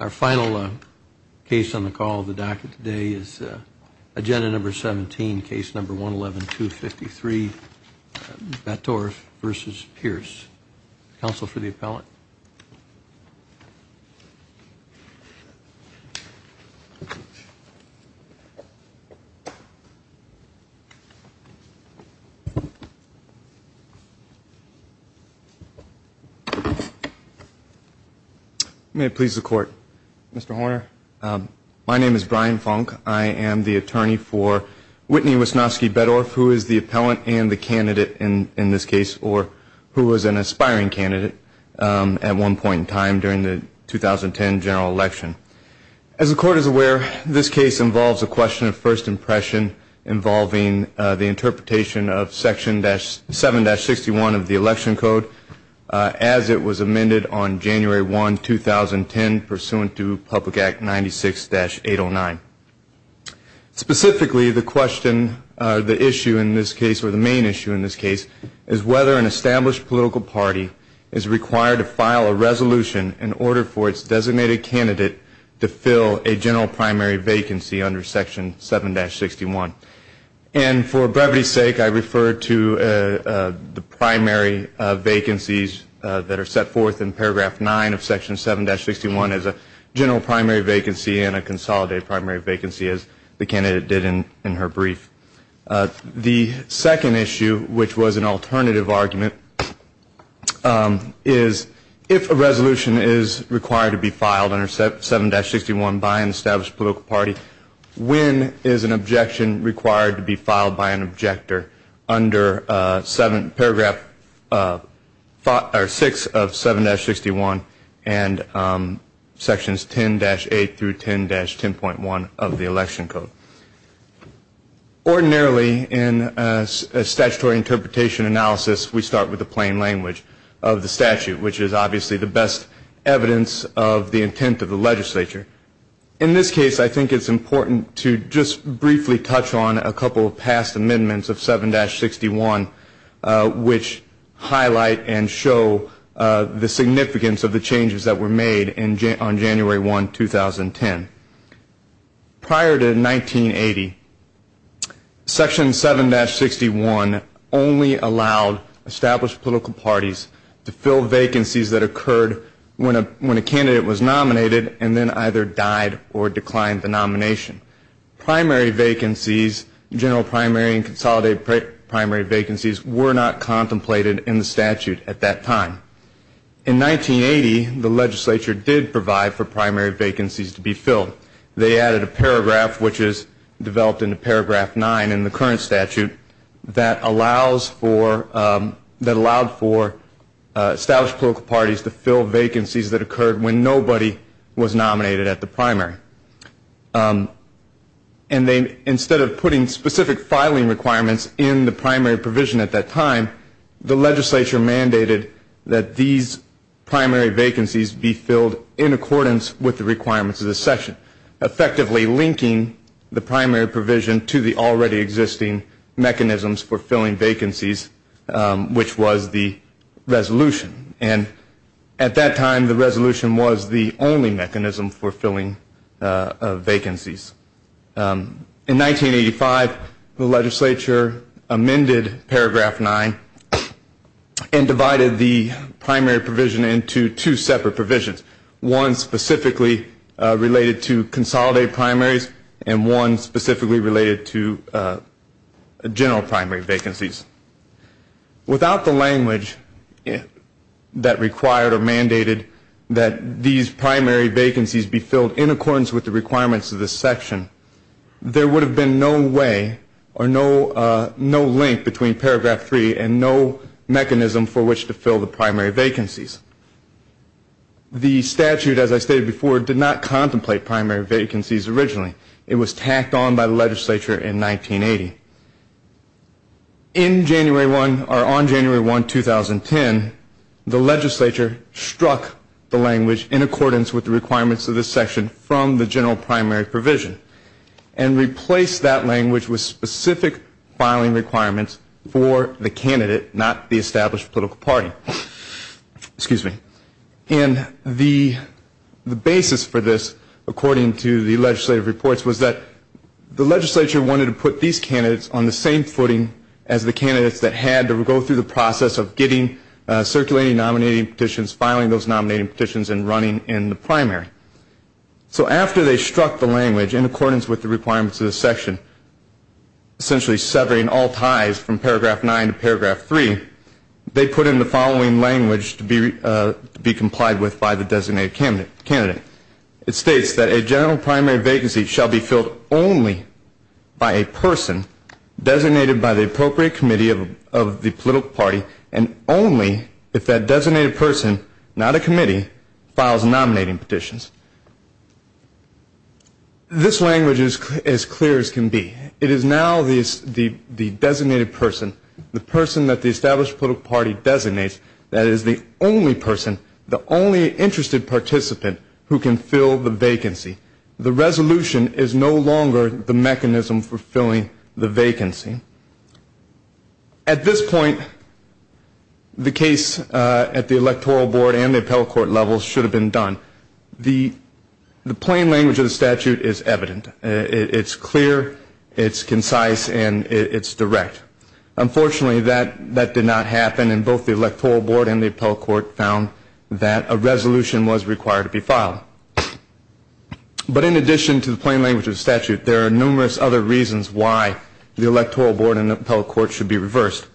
Our final case on the call of the docket today is agenda number 17, case number 111-253, Bettorf v. Pierce. Counsel for the appellant. Mr. Horner, my name is Brian Funk. I am the attorney for Whitney Wisnasky-Bettorf, who is the appellant and the candidate in this case, or who was an aspiring candidate. As the court is aware, this case involves a question of first impression involving the interpretation of section 7-61 of the election code as it was amended on January 1, 2010, pursuant to Public Act 96-809. Specifically, the question, the issue in this case, or the main issue in this case, is whether an established political party is required to file a resolution in order for its designated candidate to fill a general primary vacancy under section 7-61. And for brevity's sake, I refer to the primary vacancies that are set forth in paragraph 9 of section 7-61 as a general primary vacancy and a consolidated primary vacancy, as the candidate did in her brief. The second issue, which was an alternative argument, is if a resolution is required to be filed under 7-61 by an established political party, when is an objection required to be filed by an objector under paragraph 6 of 7-61 and sections 10-8 through 10-10.1 of the election code? Ordinarily, in a statutory interpretation analysis, we start with the plain language of the statute, which is obviously the best evidence of the intent of the legislature. In this case, I think it's important to just briefly touch on a couple of past amendments of 7-61, which highlight and show the significance of the changes that were made on January 1, 2010. Prior to 1980, section 7-61 only allowed established political parties to fill vacancies that occurred when a candidate was nominated and then either died or declined the nomination. Primary vacancies, general primary and consolidated primary vacancies, were not contemplated in the statute at that time. In 1980, the legislature did provide for primary vacancies to be filled. They added a paragraph, which is developed into paragraph 9 in the current statute, that allowed for established political parties to fill vacancies that occurred when nobody was nominated at the primary. And then instead of putting specific filing requirements in the primary provision at that time, the legislature mandated that these primary vacancies be filled in accordance with the requirements of the section, effectively linking the primary provision to the already existing mechanisms for filling vacancies, which was the resolution. And at that time, the resolution was the only mechanism for filling vacancies. In 1985, the legislature amended paragraph 9 and divided the primary provision into two separate provisions, one specifically related to consolidated primaries and one specifically related to general primary vacancies. Without the language that required or mandated that these primary vacancies be filled in accordance with the requirements of this section, there would have been no way or no link between paragraph 3 and no mechanism for which to fill the primary vacancies. The statute, as I stated before, did not contemplate primary vacancies originally. It was tacked on by the legislature in 1980. In January 1, or on January 1, 2010, the legislature struck the language in accordance with the requirements of this section from the general primary provision and replaced that language with specific filing requirements for the candidate, not the established political party. Excuse me. And the basis for this, according to the legislative reports, was that the legislature wanted to put these candidates on the same footing as the candidates that had to go through the process of getting circulating nominating petitions, filing those nominating petitions, and running in the primary. So after they struck the language in accordance with the requirements of this section, essentially severing all ties from paragraph 9 to paragraph 3, they put in the following language to be complied with by the designated candidate. It states that a general primary vacancy shall be filled only by a person designated by the appropriate committee of the political party and only if that designated person, not a committee, files nominating petitions. This language is as clear as can be. It is now the designated person, the person that the established political party designates, that is the only person, the only interested participant who can fill the vacancy. The resolution is no longer the mechanism for filling the vacancy. At this point, the case at the electoral board and the appellate court level should have been done. The plain language of the statute is evident. It's clear, it's concise, and it's direct. Unfortunately, that did not happen, and both the electoral board and the appellate court found that a resolution was required to be filed. But in addition to the plain language of the statute, there are numerous other reasons why the electoral board and the appellate court should be reversed.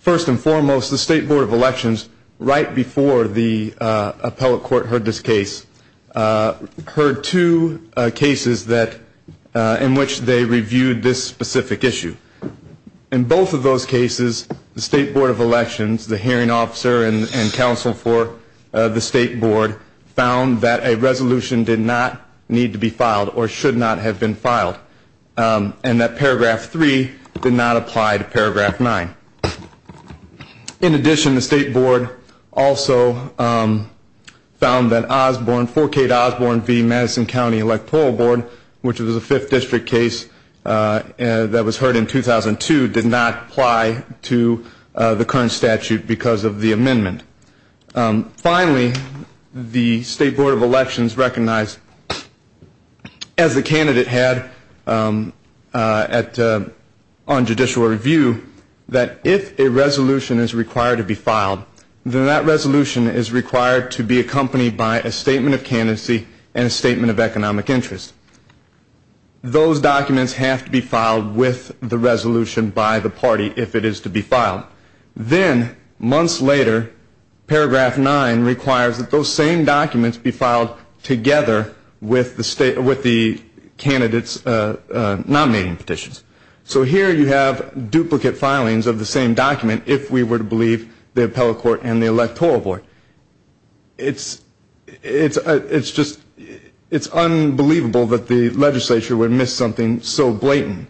First and foremost, the state board of elections, right before the appellate court heard this case, heard two cases in which they reviewed this specific issue. In both of those cases, the state board of elections, the hearing officer and counsel for the state board, found that a resolution did not need to be filed or should not have been filed and that paragraph three did not apply to paragraph nine. In addition, the state board also found that Osborne, 4K to Osborne v. Madison County Electoral Board, which was a fifth district case that was heard in 2002, did not apply to the current statute because of the amendment. Finally, the state board of elections recognized, as the candidate had on judicial review, that if a resolution is required to be filed, then that resolution is required to be accompanied by a statement of candidacy and a statement of economic interest. Those documents have to be filed with the resolution by the party if it is to be filed. Then, months later, paragraph nine requires that those same documents be filed together with the candidates' nominating petitions. So here you have duplicate filings of the same document if we were to believe the appellate court and the electoral board. It's unbelievable that the legislature would miss something so blatant.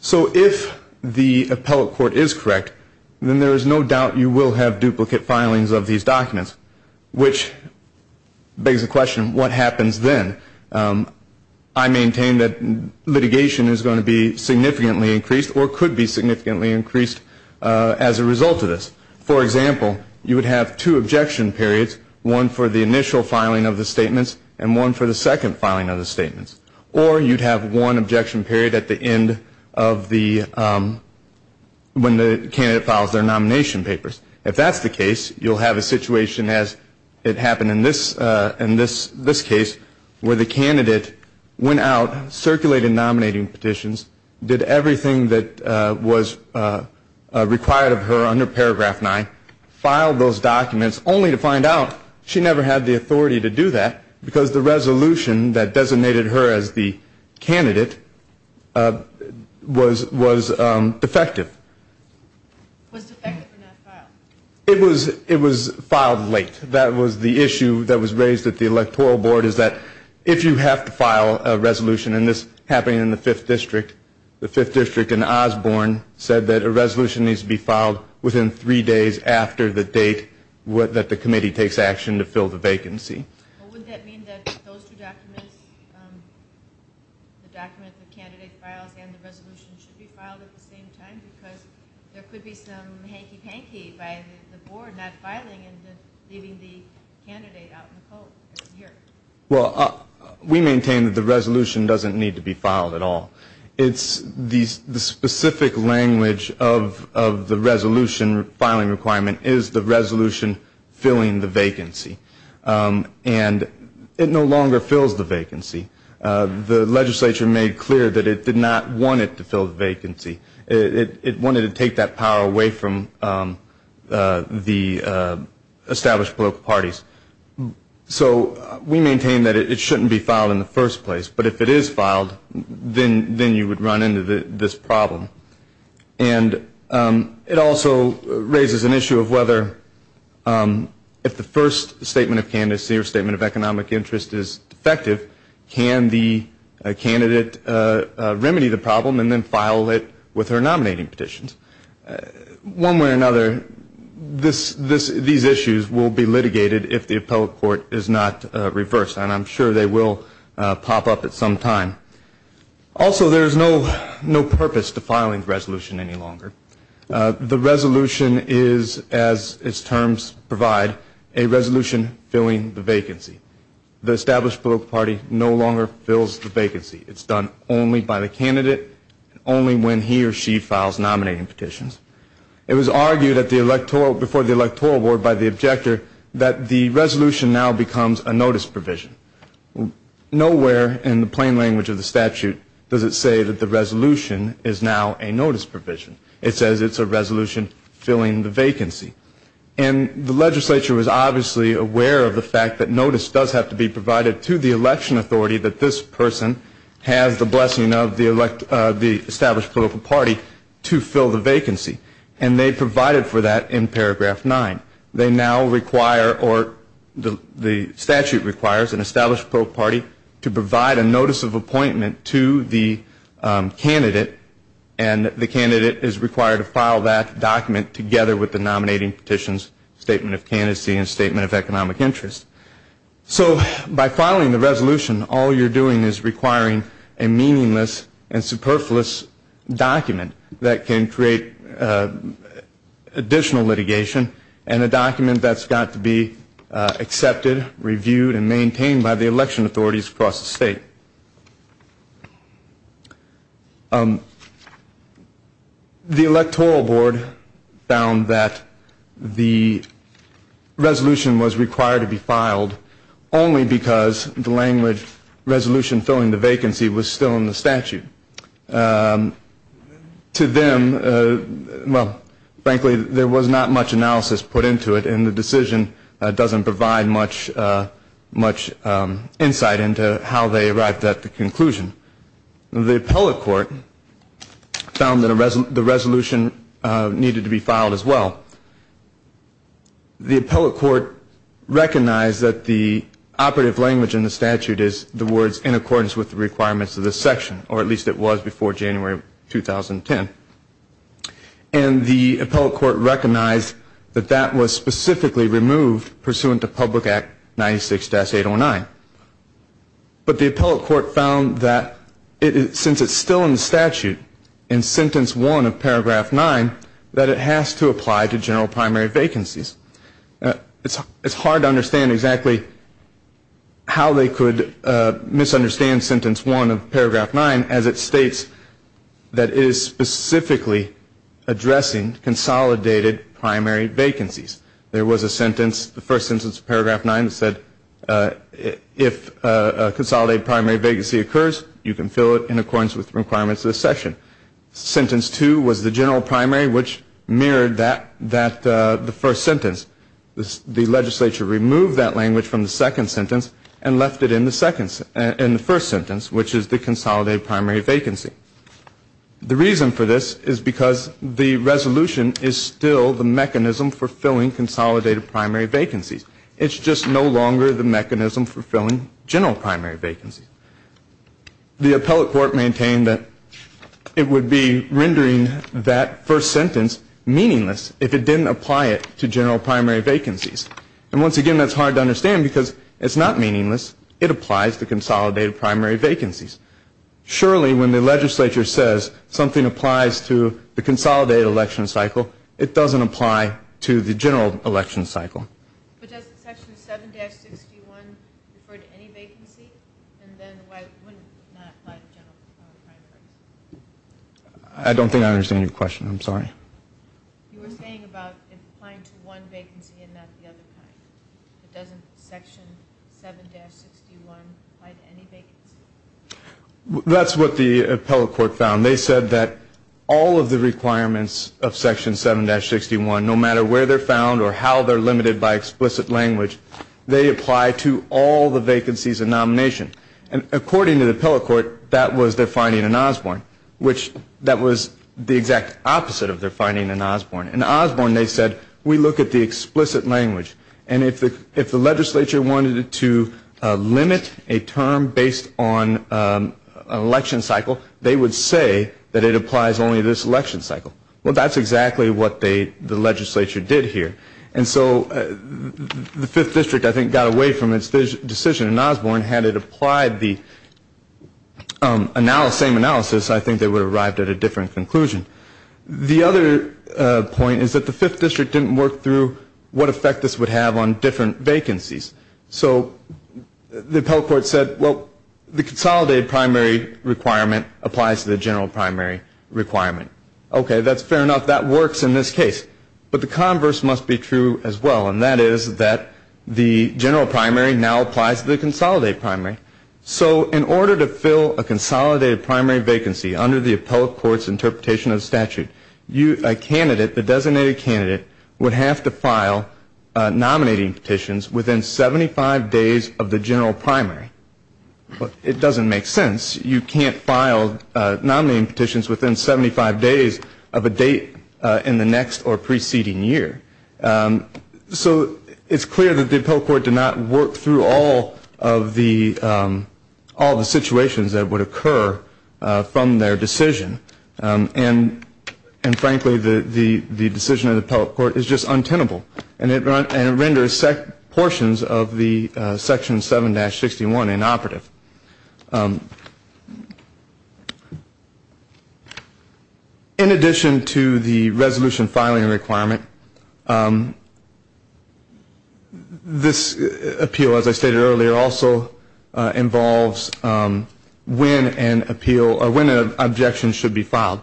So if the appellate court is correct, then there is no doubt you will have duplicate filings of these documents, which begs the question, what happens then? I maintain that litigation is going to be significantly increased or could be significantly increased as a result of this. For example, you would have two objection periods, one for the initial filing of the statements or you'd have one objection period at the end of the, when the candidate files their nomination papers. If that's the case, you'll have a situation as it happened in this case where the candidate went out, circulated nominating petitions, did everything that was required of her under paragraph nine, filed those documents only to find out she never had the authority to do that because the resolution that designated her as the candidate was defective. Was defective or not filed? It was filed late. That was the issue that was raised at the electoral board is that if you have to file a resolution, and this happened in the fifth district, the fifth district in Osborne said that a resolution needs to be filed within three days after the date that the committee takes action to fill the vacancy. Would that mean that those two documents, the document the candidate files and the resolution should be filed at the same time? Because there could be some hanky-panky by the board not filing and leaving the candidate out in the cold. Well, we maintain that the resolution doesn't need to be filed at all. It's the specific language of the resolution filing requirement is the resolution filling the vacancy. And it no longer fills the vacancy. The legislature made clear that it did not want it to fill the vacancy. It wanted to take that power away from the established political parties. So we maintain that it shouldn't be filed in the first place. But if it is filed, then you would run into this problem. And it also raises an issue of whether if the first statement of candidacy or statement of economic interest is defective, can the candidate remedy the problem and then file it with her nominating petitions? One way or another, these issues will be litigated if the appellate court is not reversed. And I'm sure they will pop up at some time. Also, there is no purpose to filing the resolution any longer. The resolution is, as its terms provide, a resolution filling the vacancy. The established political party no longer fills the vacancy. It's done only by the candidate, only when he or she files nominating petitions. It was argued before the electoral board by the objector that the resolution now becomes a notice provision. Nowhere in the plain language of the statute does it say that the resolution is now a notice provision. It says it's a resolution filling the vacancy. And the legislature was obviously aware of the fact that notice does have to be provided to the election authority that this person has the blessing of the established political party to fill the vacancy. And they provided for that in paragraph 9. They now require, or the statute requires, an established political party to provide a notice of appointment to the candidate. And the candidate is required to file that document together with the nominating petitions, statement of candidacy, and statement of economic interest. So by filing the resolution, all you're doing is requiring a meaningless and superfluous document that can create additional litigation and a document that's got to be accepted, reviewed, and maintained by the election authorities across the state. The electoral board found that the resolution was required to be filed only because the language resolution filling the vacancy was still in the statute. To them, well, frankly, there was not much analysis put into it, and the decision doesn't provide much insight into how they arrived at the conclusion. The appellate court found that the resolution needed to be filed as well. The appellate court recognized that the operative language in the statute is the words in accordance with the requirements of this section, or at least it was before January 2010. And the appellate court recognized that that was specifically removed pursuant to Public Act 96-809. But the appellate court found that since it's still in the statute in sentence 1 of paragraph 9, that it has to apply to general primary vacancies. It's hard to understand exactly how they could misunderstand sentence 1 of paragraph 9 as it states that it is specifically addressing consolidated primary vacancies. There was a sentence, the first sentence of paragraph 9, that said if a consolidated primary vacancy occurs, you can fill it in accordance with the requirements of this section. Sentence 2 was the general primary, which mirrored the first sentence. The legislature removed that language from the second sentence and left it in the first sentence, which is the consolidated primary vacancy. The reason for this is because the resolution is still the mechanism for filling consolidated primary vacancies. It's just no longer the mechanism for filling general primary vacancies. The appellate court maintained that it would be rendering that first sentence meaningless if it didn't apply it to general primary vacancies. And once again, that's hard to understand because it's not meaningless. It applies to consolidated primary vacancies. Surely when the legislature says something applies to the consolidated election cycle, it doesn't apply to the general election cycle. But does section 7-61 refer to any vacancy? And then why wouldn't it not apply to general primary vacancies? I don't think I understand your question. I'm sorry. You were saying about it applying to one vacancy and not the other kind. But doesn't section 7-61 apply to any vacancy? That's what the appellate court found. They said that all of the requirements of section 7-61, no matter where they're found or how they're limited by explicit language, they apply to all the vacancies in nomination. And according to the appellate court, that was their finding in Osborne, which that was the exact opposite of their finding in Osborne. In Osborne, they said, we look at the explicit language. And if the legislature wanted to limit a term based on election cycle, they would say that it applies only to this election cycle. Well, that's exactly what the legislature did here. And so the 5th District, I think, got away from its decision in Osborne. Had it applied the same analysis, I think they would have arrived at a different conclusion. The other point is that the 5th District didn't work through what effect this would have on different vacancies. So the appellate court said, well, the consolidated primary requirement applies to the general primary requirement. That's fair enough. That works in this case. But the converse must be true as well. And that is that the general primary now applies to the consolidated primary. So in order to fill a consolidated primary vacancy under the appellate court's interpretation of the statute, a candidate, the designated candidate, would have to file nominating petitions within 75 days of the general primary. It doesn't make sense. You can't file nominating petitions within 75 days of a date in the next or preceding year. So it's clear that the appellate court did not work through all of the situations that would occur from their decision. And frankly, the decision of the appellate court is just untenable. And it renders portions of the Section 7-61 inoperative. In addition to the resolution filing requirement, this appeal, as I stated earlier, also involves when an appeal or when an objection should be filed.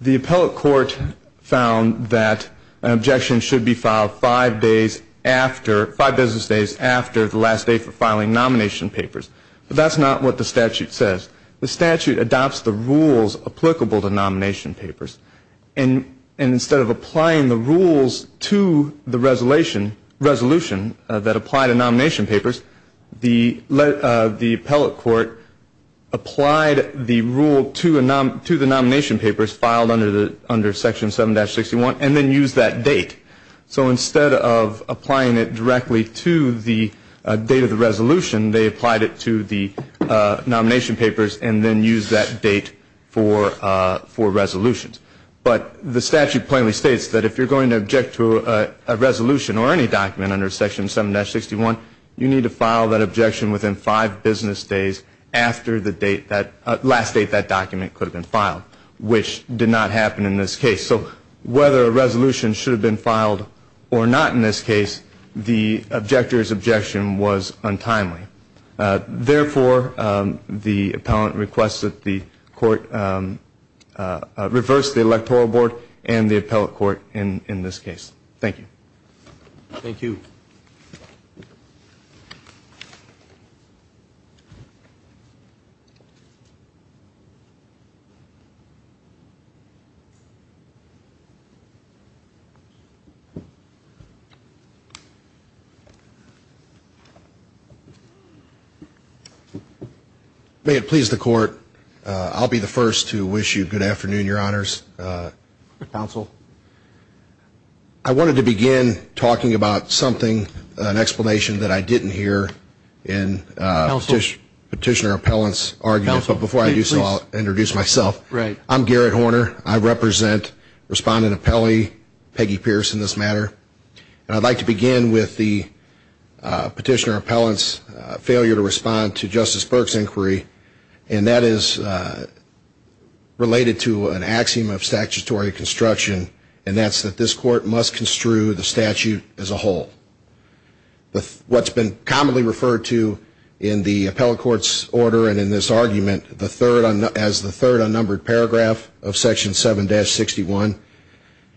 The appellate court found that an objection should be filed five business days after the last day for filing nomination papers. But that's not what the statute says. The statute adopts the rules applicable to nomination papers. And instead of applying the rules to the resolution that apply to nomination papers, the appellate court applied the rule to the nomination papers filed under Section 7-61 and then used that date. So instead of applying it directly to the date of the resolution, they applied it to the nomination papers and then used that date for resolutions. But the statute plainly states that if you're going to object to a resolution or any document under Section 7-61, you need to file that objection within five business days after the last date that document could have been filed, which did not happen in this case. So whether a resolution should have been filed or not in this case, the objector's objection was untimely. Therefore, the appellant requests that the court reverse the electoral board and the appellate court in this case. Thank you. Thank you. May it please the court. I'll be the first to wish you good afternoon, Your Honors. Counsel. I wanted to begin talking about something, an explanation that I didn't hear in Petitioner Appellant's argument. But before I do so, I'll introduce myself. I'm Garrett Horner. I represent Respondent Appellee Peggy Pierce in this matter. And I'd like to begin with the Petitioner Appellant's failure to respond to Justice Burke's inquiry. And that is related to an axiom of statutory construction, and that's that this court must construe the statute as a whole. What's been commonly referred to in the appellate court's order and in this argument as the third unnumbered paragraph of Section 7-61,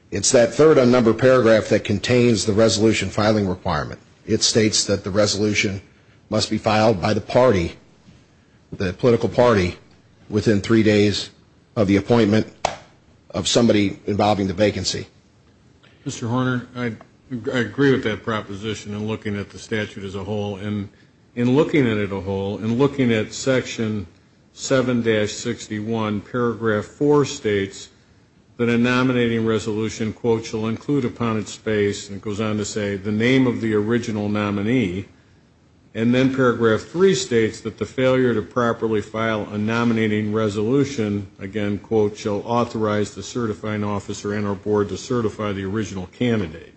it's that third unnumbered paragraph that contains the resolution filing requirement. It states that the resolution must be filed by the party, the political party, within three days of the appointment of somebody involving the vacancy. Mr. Horner, I agree with that proposition in looking at the statute as a whole. And in looking at it as a whole, in looking at Section 7-61, paragraph 4 states that a nominating resolution, quote, shall include upon its space, and it goes on to say, the name of the original nominee. And then paragraph 3 states that the failure to properly file a nominating resolution, again, quote, shall authorize the certifying officer in our board to certify the original candidate.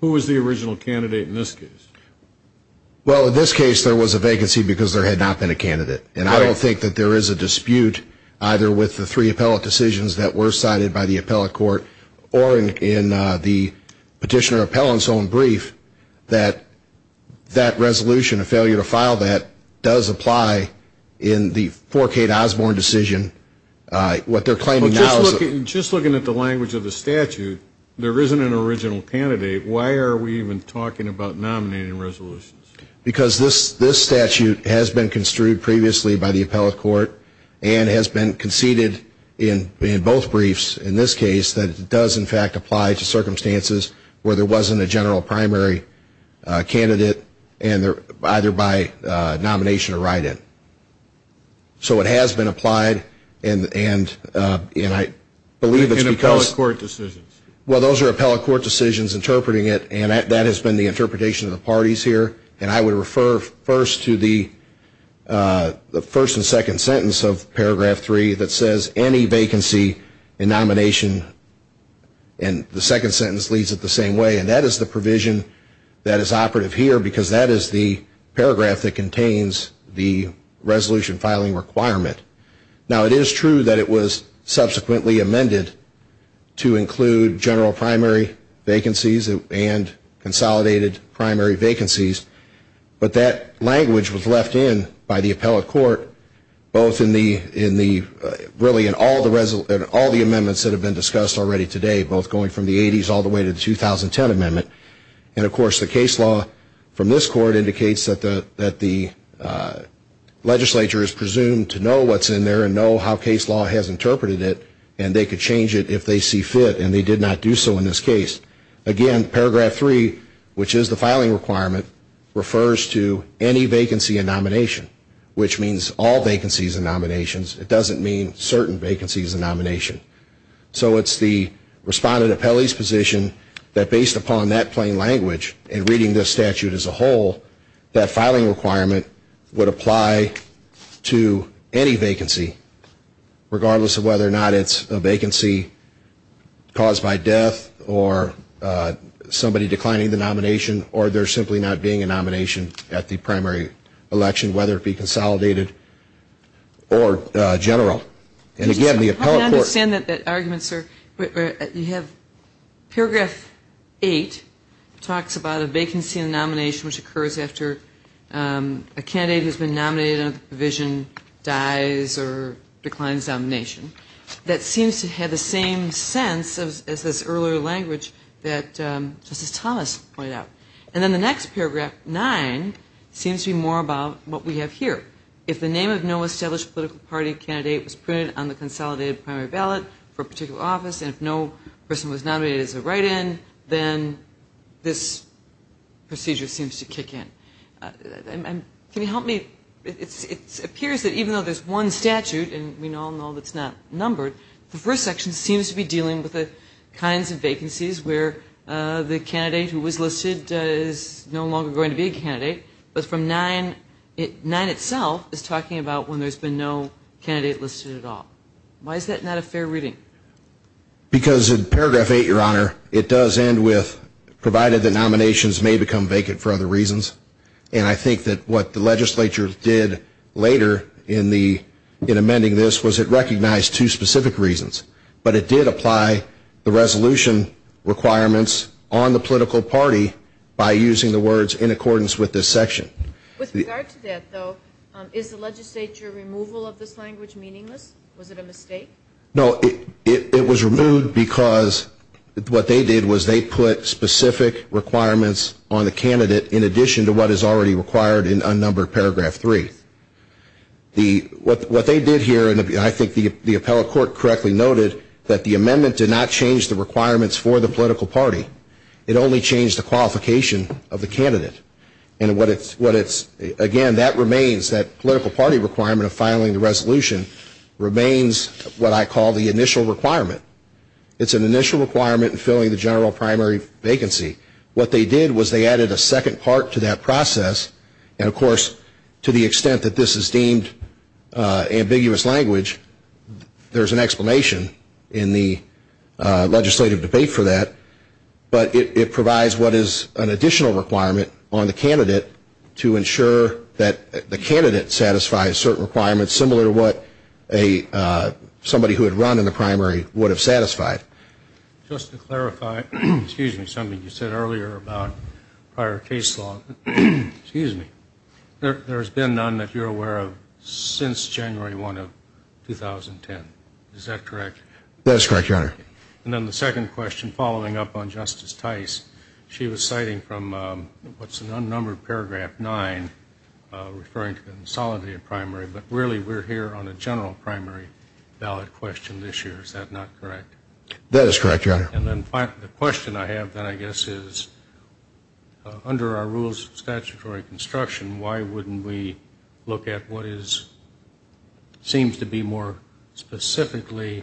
Who was the original candidate in this case? Well, in this case, there was a vacancy because there had not been a candidate. And I don't think that there is a dispute either with the three appellate decisions that were cited by the appellate court or in the petitioner appellant's own brief that that resolution, a failure to file that, does apply in the 4K to Osborne decision. What they're claiming now is that... Well, just looking at the language of the statute, there isn't an original candidate. Why are we even talking about nominating resolutions? Because this statute has been construed previously by the appellate court and has been conceded in both briefs in this case that it does, in fact, apply to circumstances where there wasn't a general primary candidate either by nomination or write-in. So it has been applied, and I believe it's because... In appellate court decisions. Well, those are appellate court decisions interpreting it, and that has been the interpretation of the parties here. And I would refer first to the first and second sentence of Paragraph 3 that says any vacancy in nomination... And the second sentence leads it the same way, and that is the provision that is operative here because that is the paragraph that contains the resolution filing requirement. Now, it is true that it was subsequently amended to include general primary vacancies and consolidated primary vacancies, but that language was left in by the appellate court both in the... really in all the amendments that have been discussed already today, both going from the 80s all the way to the 2010 amendment. And, of course, the case law from this court indicates that the legislature is presumed to know what's in there and know how case law has interpreted it, and they could change it if they see fit, and they did not do so in this case. Again, Paragraph 3, which is the filing requirement, refers to any vacancy in nomination, which means all vacancies in nominations. It doesn't mean certain vacancies in nomination. So it's the respondent appellee's position that based upon that plain language and reading this statute as a whole, that filing requirement would apply to any vacancy, regardless of whether or not it's a vacancy caused by death or somebody declining the nomination or there simply not being a nomination at the primary election, whether it be consolidated or general. And, again, the appellate court... I don't understand that argument, sir. You have Paragraph 8 talks about a vacancy in a nomination which occurs after a candidate has been nominated and the provision dies or declines nomination. That seems to have the same sense as this earlier language that Justice Thomas pointed out. And then the next paragraph, 9, seems to be more about what we have here. If the name of no established political party candidate was printed on the consolidated primary ballot for a particular office and if no person was nominated as a write-in, then this procedure seems to kick in. Can you help me? It appears that even though there's one statute, and we all know that's not numbered, the first section seems to be dealing with the kinds of vacancies where the candidate who was listed is no longer going to be a candidate, but from 9, 9 itself is talking about when there's been no candidate listed at all. Why is that not a fair reading? Because in Paragraph 8, Your Honor, it does end with provided that nominations may become vacant for other reasons. And I think that what the legislature did later in amending this was it recognized two specific reasons. But it did apply the resolution requirements on the political party by using the words in accordance with this section. With regard to that, though, Was it a mistake? No, it was removed because what they did was they put specific requirements on the candidate in addition to what is already required in unnumbered Paragraph 3. What they did here, and I think the appellate court correctly noted, that the amendment did not change the requirements for the political party. It only changed the qualification of the candidate. And what it's, again, that remains, that political party requirement of filing the resolution remains what I call the initial requirement. It's an initial requirement in filling the general primary vacancy. What they did was they added a second part to that process. And, of course, to the extent that this is deemed ambiguous language, there's an explanation in the legislative debate for that. But it provides what is an additional requirement on the candidate to ensure that the candidate satisfies certain requirements that's similar to what somebody who had run in the primary would have satisfied. Just to clarify, excuse me, something you said earlier about prior case law. Excuse me. There's been none that you're aware of since January 1 of 2010. Is that correct? That is correct, Your Honor. And then the second question, following up on Justice Tice, she was citing from what's an unnumbered Paragraph 9, referring to the consolidated primary, but really we're here on a general primary ballot question this year. Is that not correct? That is correct, Your Honor. And then the question I have then, I guess, is, under our rules of statutory construction, why wouldn't we look at what is, seems to be more specifically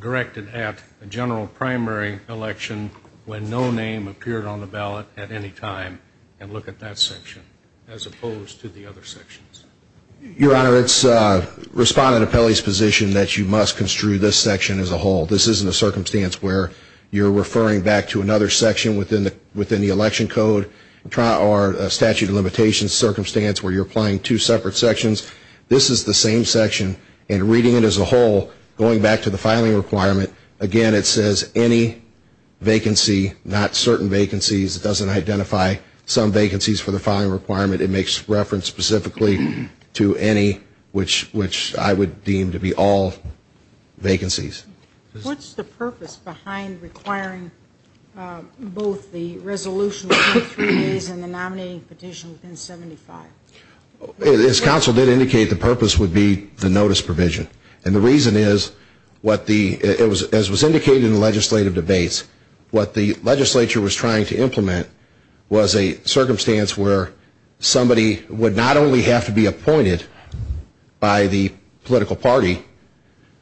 directed at a general primary election when no name appeared on the ballot at any time and look at that section? As opposed to the other sections. Your Honor, it's Respondent Apelli's position that you must construe this section as a whole. This isn't a circumstance where you're referring back to another section within the election code or statute of limitations circumstance where you're applying two separate sections. This is the same section, and reading it as a whole, going back to the filing requirement, again it says any vacancy, not certain vacancies. It doesn't identify some vacancies for the filing requirement. It makes reference specifically to any, which I would deem to be all vacancies. What's the purpose behind requiring both the resolution within three days and the nominating petition within 75? As counsel did indicate, the purpose would be the notice provision. And the reason is, as was indicated in the legislative debates, what the legislature was trying to implement was a circumstance where somebody would not only have to be appointed by the political party,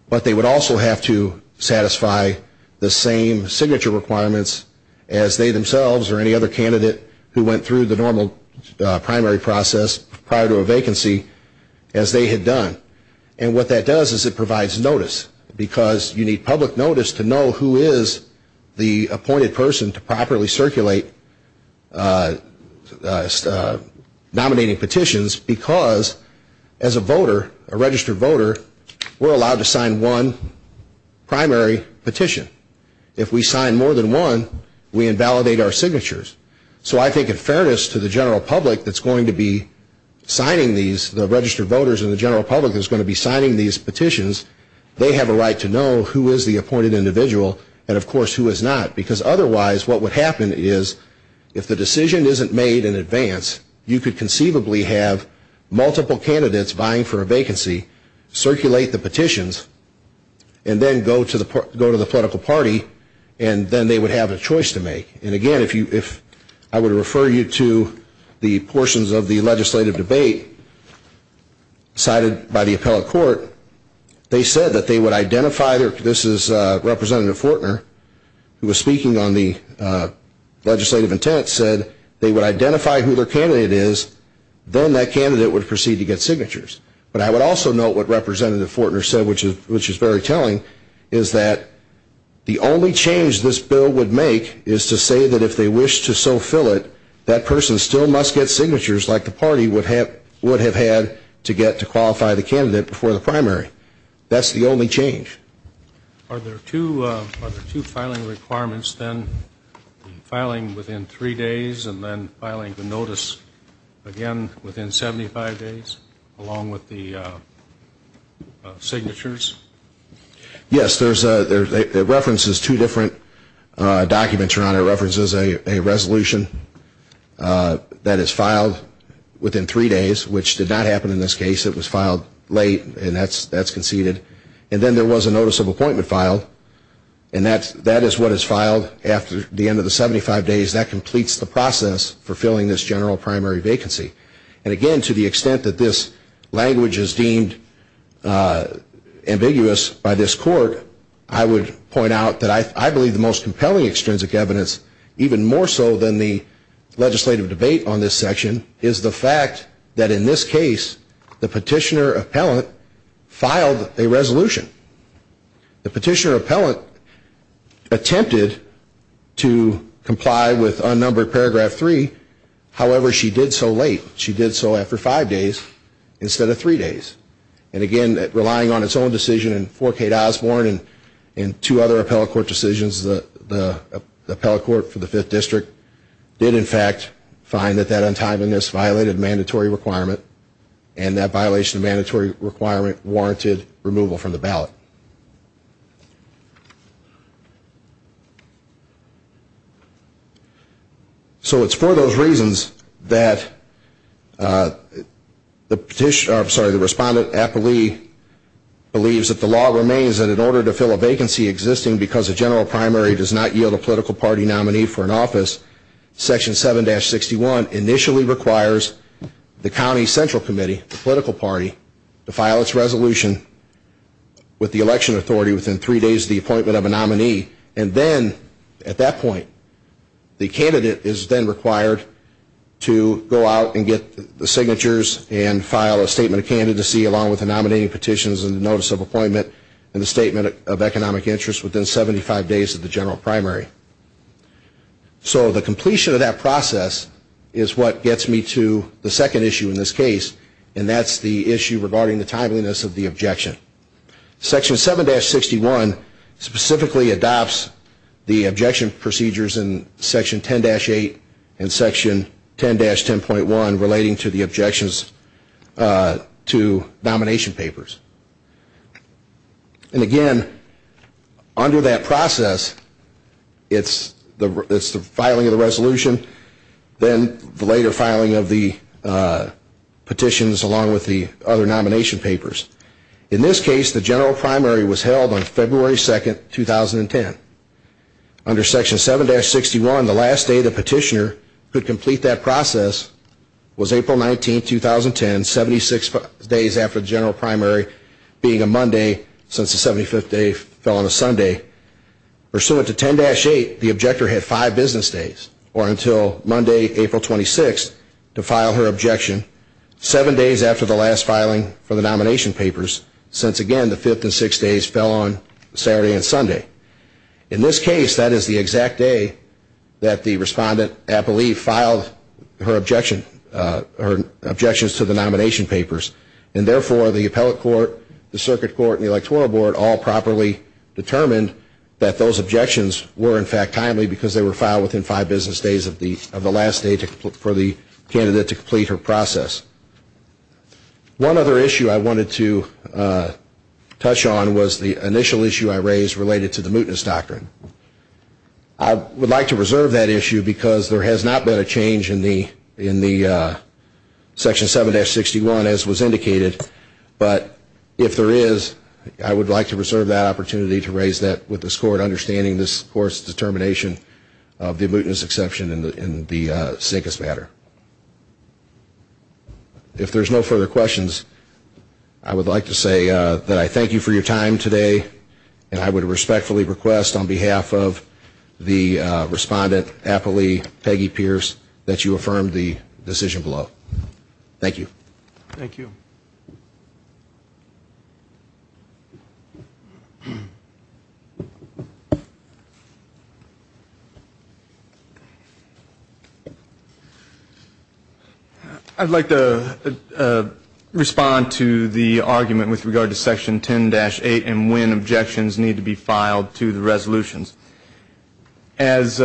but they would also have to satisfy the same signature requirements as they themselves or any other candidate who went through the normal primary process prior to a vacancy as they had done. And what that does is it provides notice because you need public notice to know who is the appointed person to properly circulate nominating petitions because as a voter, a registered voter, we're allowed to sign one primary petition. If we sign more than one, we invalidate our signatures. So I think in fairness to the general public that's going to be signing these, the registered voters and the general public that's going to be signing these petitions, they have a right to know who is the appointed individual and of course who is not and what would happen is if the decision isn't made in advance, you could conceivably have multiple candidates vying for a vacancy, circulate the petitions, and then go to the political party and then they would have a choice to make. And again, if I were to refer you to the portions of the legislative debate cited by the appellate court, they said that they would identify, this is Representative Fortner who was speaking on the legislative intent, said they would identify who their candidate is, then that candidate would proceed to get signatures. But I would also note what Representative Fortner said which is very telling, is that the only change this bill would make is to say that if they wish to so fill it, that person still must get signatures like the party would have had to qualify the candidate before the primary. That's the only change. Are there two filing requirements then? Filing within three days and then filing the notice again within 75 days along with the signatures? Yes. It references two different documents, Your Honor. It references a resolution that is filed within three days which did not happen in this case. It was filed late and that's conceded. And then there was a notice of appointment filed and that is what is filed after the end of the 75 days. That completes the process for filling this general primary vacancy. And again, to the extent that this language is deemed ambiguous by this court, I would point out that I believe the most compelling extrinsic evidence, even more so than the legislative debate on this section, is the fact that in this case, the petitioner appellate attempted to comply with unnumbered paragraph three. However, she did so late. She did so after five days instead of three days. And again, relying on its own decision in 4K to Osborne and two other appellate court decisions, the appellate court for the Fifth District did in fact find that that untimeliness violated mandatory requirement and that violation of mandatory requirement warranted removal. did not want to be removed from the ballot. So it's for those reasons that the petitioner, I'm sorry, the respondent appellee believes that the law remains that in order to fill a vacancy existing because a general primary does not yield a political party nominee for an office, section 7-61 initially requires the county central committee, with the election authority within three days of the appointment of a nominee and then at that point, the candidate is then required to go out and get the signatures and file a statement of candidacy along with the nominating petitions and the notice of appointment and the statement of economic interest within 75 days of the general primary. So the completion of that process is what gets me to the second issue in this case and that's the issue that section 7-61 specifically adopts the objection procedures in section 10-8 and section 10-10.1 relating to the objections to nomination papers. And again, under that process, it's the filing of the resolution then the later filing of the petitions along with the other nomination papers. In this case, the general primary was held on February 2, 2010. Under section 7-61, the last day the petitioner could complete that process was April 19, 2010, 76 days after the general primary being a Monday since the 75th day fell on a Sunday. Pursuant to 10-8, the objector had five business days or until Monday, April 26 to file her objection seven days after the last filing of the nomination papers since, again, the fifth and sixth days fell on Saturday and Sunday. In this case, that is the exact day that the respondent, I believe, filed her objections to the nomination papers and therefore the appellate court, the circuit court, and the electoral board all properly determined that those objections that you touch on was the initial issue I raised related to the mootness doctrine. I would like to reserve that issue because there has not been a change in the section 7-61 as was indicated, but if there is, I would like to reserve that opportunity to raise that with this court understanding this court's determination of the mootness exception in the Sinkus matter. If there's no further questions, I'd like to say that I thank you for your time today and I would respectfully request on behalf of the respondent appellee, Peggy Pierce, that you affirm the decision below. Thank you. Thank you. I'd like to respond to the argument with regard to section 10-8 and when objections need to be filed to the resolutions. As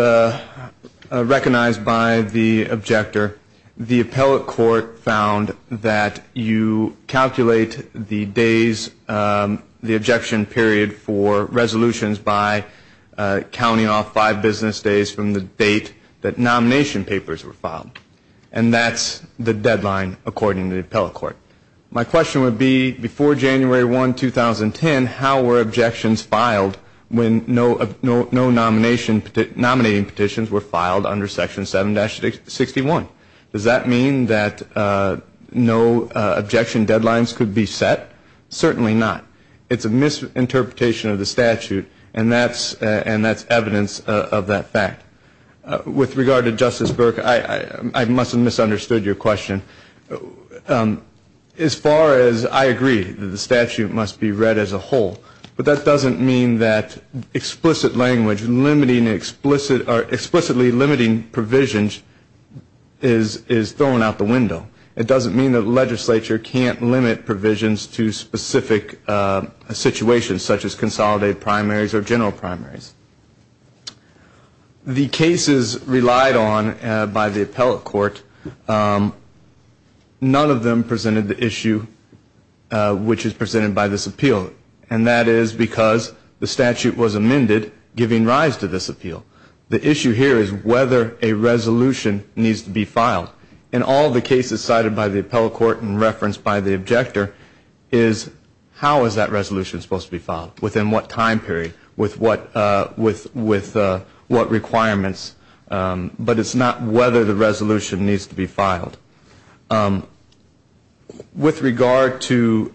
recognized by the objector, the appellate court found that you calculate the days, the objection period for resolutions by counting off five business days from the date that nomination papers were filed and that's the deadline according to the appellate court. My question would be before January 1, 2010, how were objections filed when no nominating petitions were filed under section 7-61? Does that mean that no objection deadlines could be set? Certainly not. It's a misinterpretation of the statute and that's evidence of that fact. With regard to Justice Burke, I must have misunderstood your question. As far as I agree that the statute must be read as a whole, but that doesn't mean that explicit language or explicitly limiting provisions is thrown out the window. It doesn't mean that the legislature can't limit provisions to specific situations such as consolidated primaries or general primaries. The cases relied on by the appellate court, none of them presented the issue which is presented by this appeal and that is because the statute was amended giving rise to this appeal. The issue here is whether a resolution needs to be filed. In all the cases cited by the appellate court and referenced by the objector is how is that resolution supposed to be filed, within what time period, with what requirements, but it's not whether the resolution needs to be filed. With regard to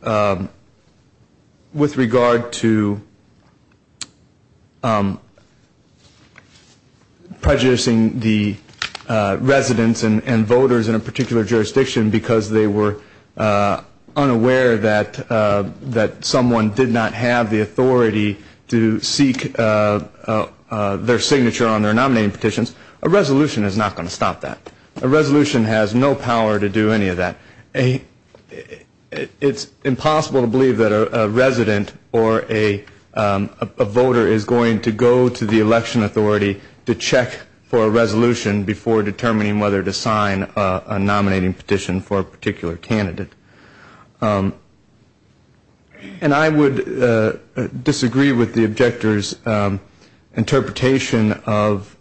prejudicing the residents and voters in a particular jurisdiction because they were unaware that someone did not have the authority to seek their signature on their nominating petitions, a resolution is not going to stop that. A resolution has no power to do any of that. It's impossible to believe that a resident or a voter is going to go to the election authority to check for a resolution before determining whether to sign a nominating petition for a particular candidate. And I would disagree with the objector's interpretation of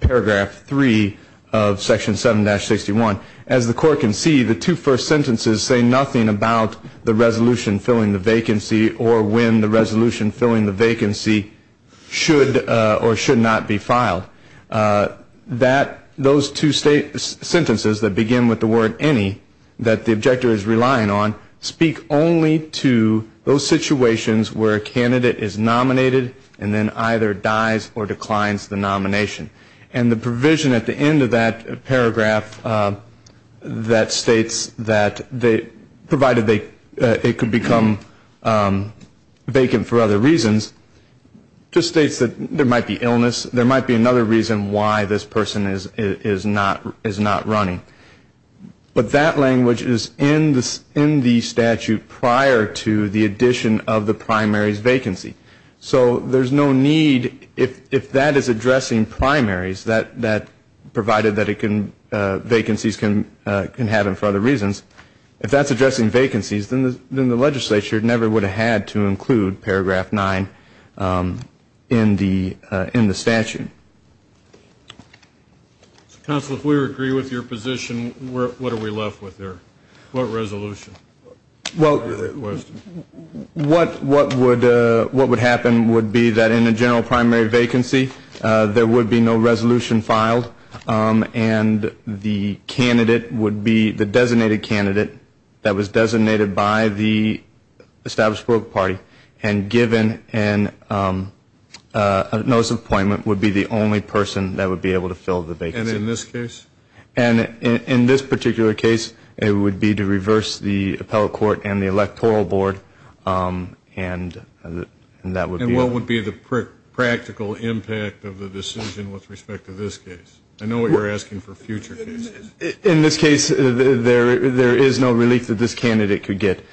paragraph 3 of section 7-61. As the court can see, the two first sentences say nothing about the resolution filling the vacancy or when the resolution filling the vacancy should or should not be filed. Those two sentences that begin with the word any that the objector is relying on speak only to those situations where a candidate is nominated and then either dies or declines the nomination. And the provision at the end of that paragraph that states that provided it could become vacant for other reasons just states that there might be illness, there might be another reason why this person is not running. But that language is in the statute prior to the addition of the primary's vacancy. So there's no need if that is addressing primaries that provided that vacancies can happen for other reasons, if that's addressing vacancies then the legislature never would have had to include paragraph 9 in the statute. Counsel, if we agree with your position, what are we left with there? What resolution? Well, what would happen would be that in a general primary vacancy there would be no resolution filed and the candidate would be the designated candidate that was designated by the established work party and given a notice of appointment would be the only person that would be able to fill the vacancy. And in this case? And in this particular case it would be to reverse the appellate court and the electoral board and that would be... And what would be the practical impact of the decision with respect to this case? I know what you're asking for future cases. In this case there is no relief that this candidate could get.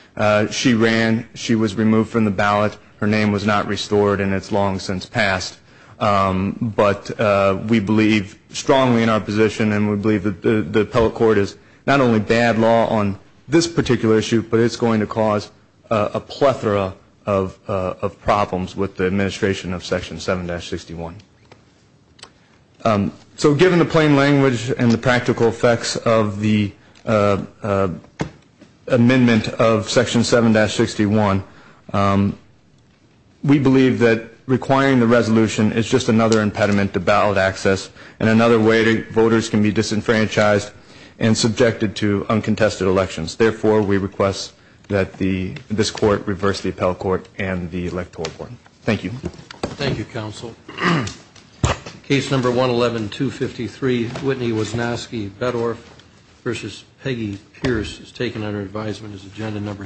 She ran, she was removed from the ballot, her name was not restored and it's long since passed. But we believe strongly in our position and we we can't have a bad law on this particular issue but it's going to cause a plethora of problems with the administration of section 7-61. So given the plain language and the practical effects of the amendment of section 7-61, we believe that requiring the resolution is just another impediment to ballot access and another way voters can be disenfranchised and subjected to uncontested elections. Therefore, we request that this court reverse the appellate court and the electoral court. Thank you. Thank you, counsel. Case number 111-253, Whitney Wisnowski Beddorf v. Peggy Pierce is taken under advisement as agenda number 17.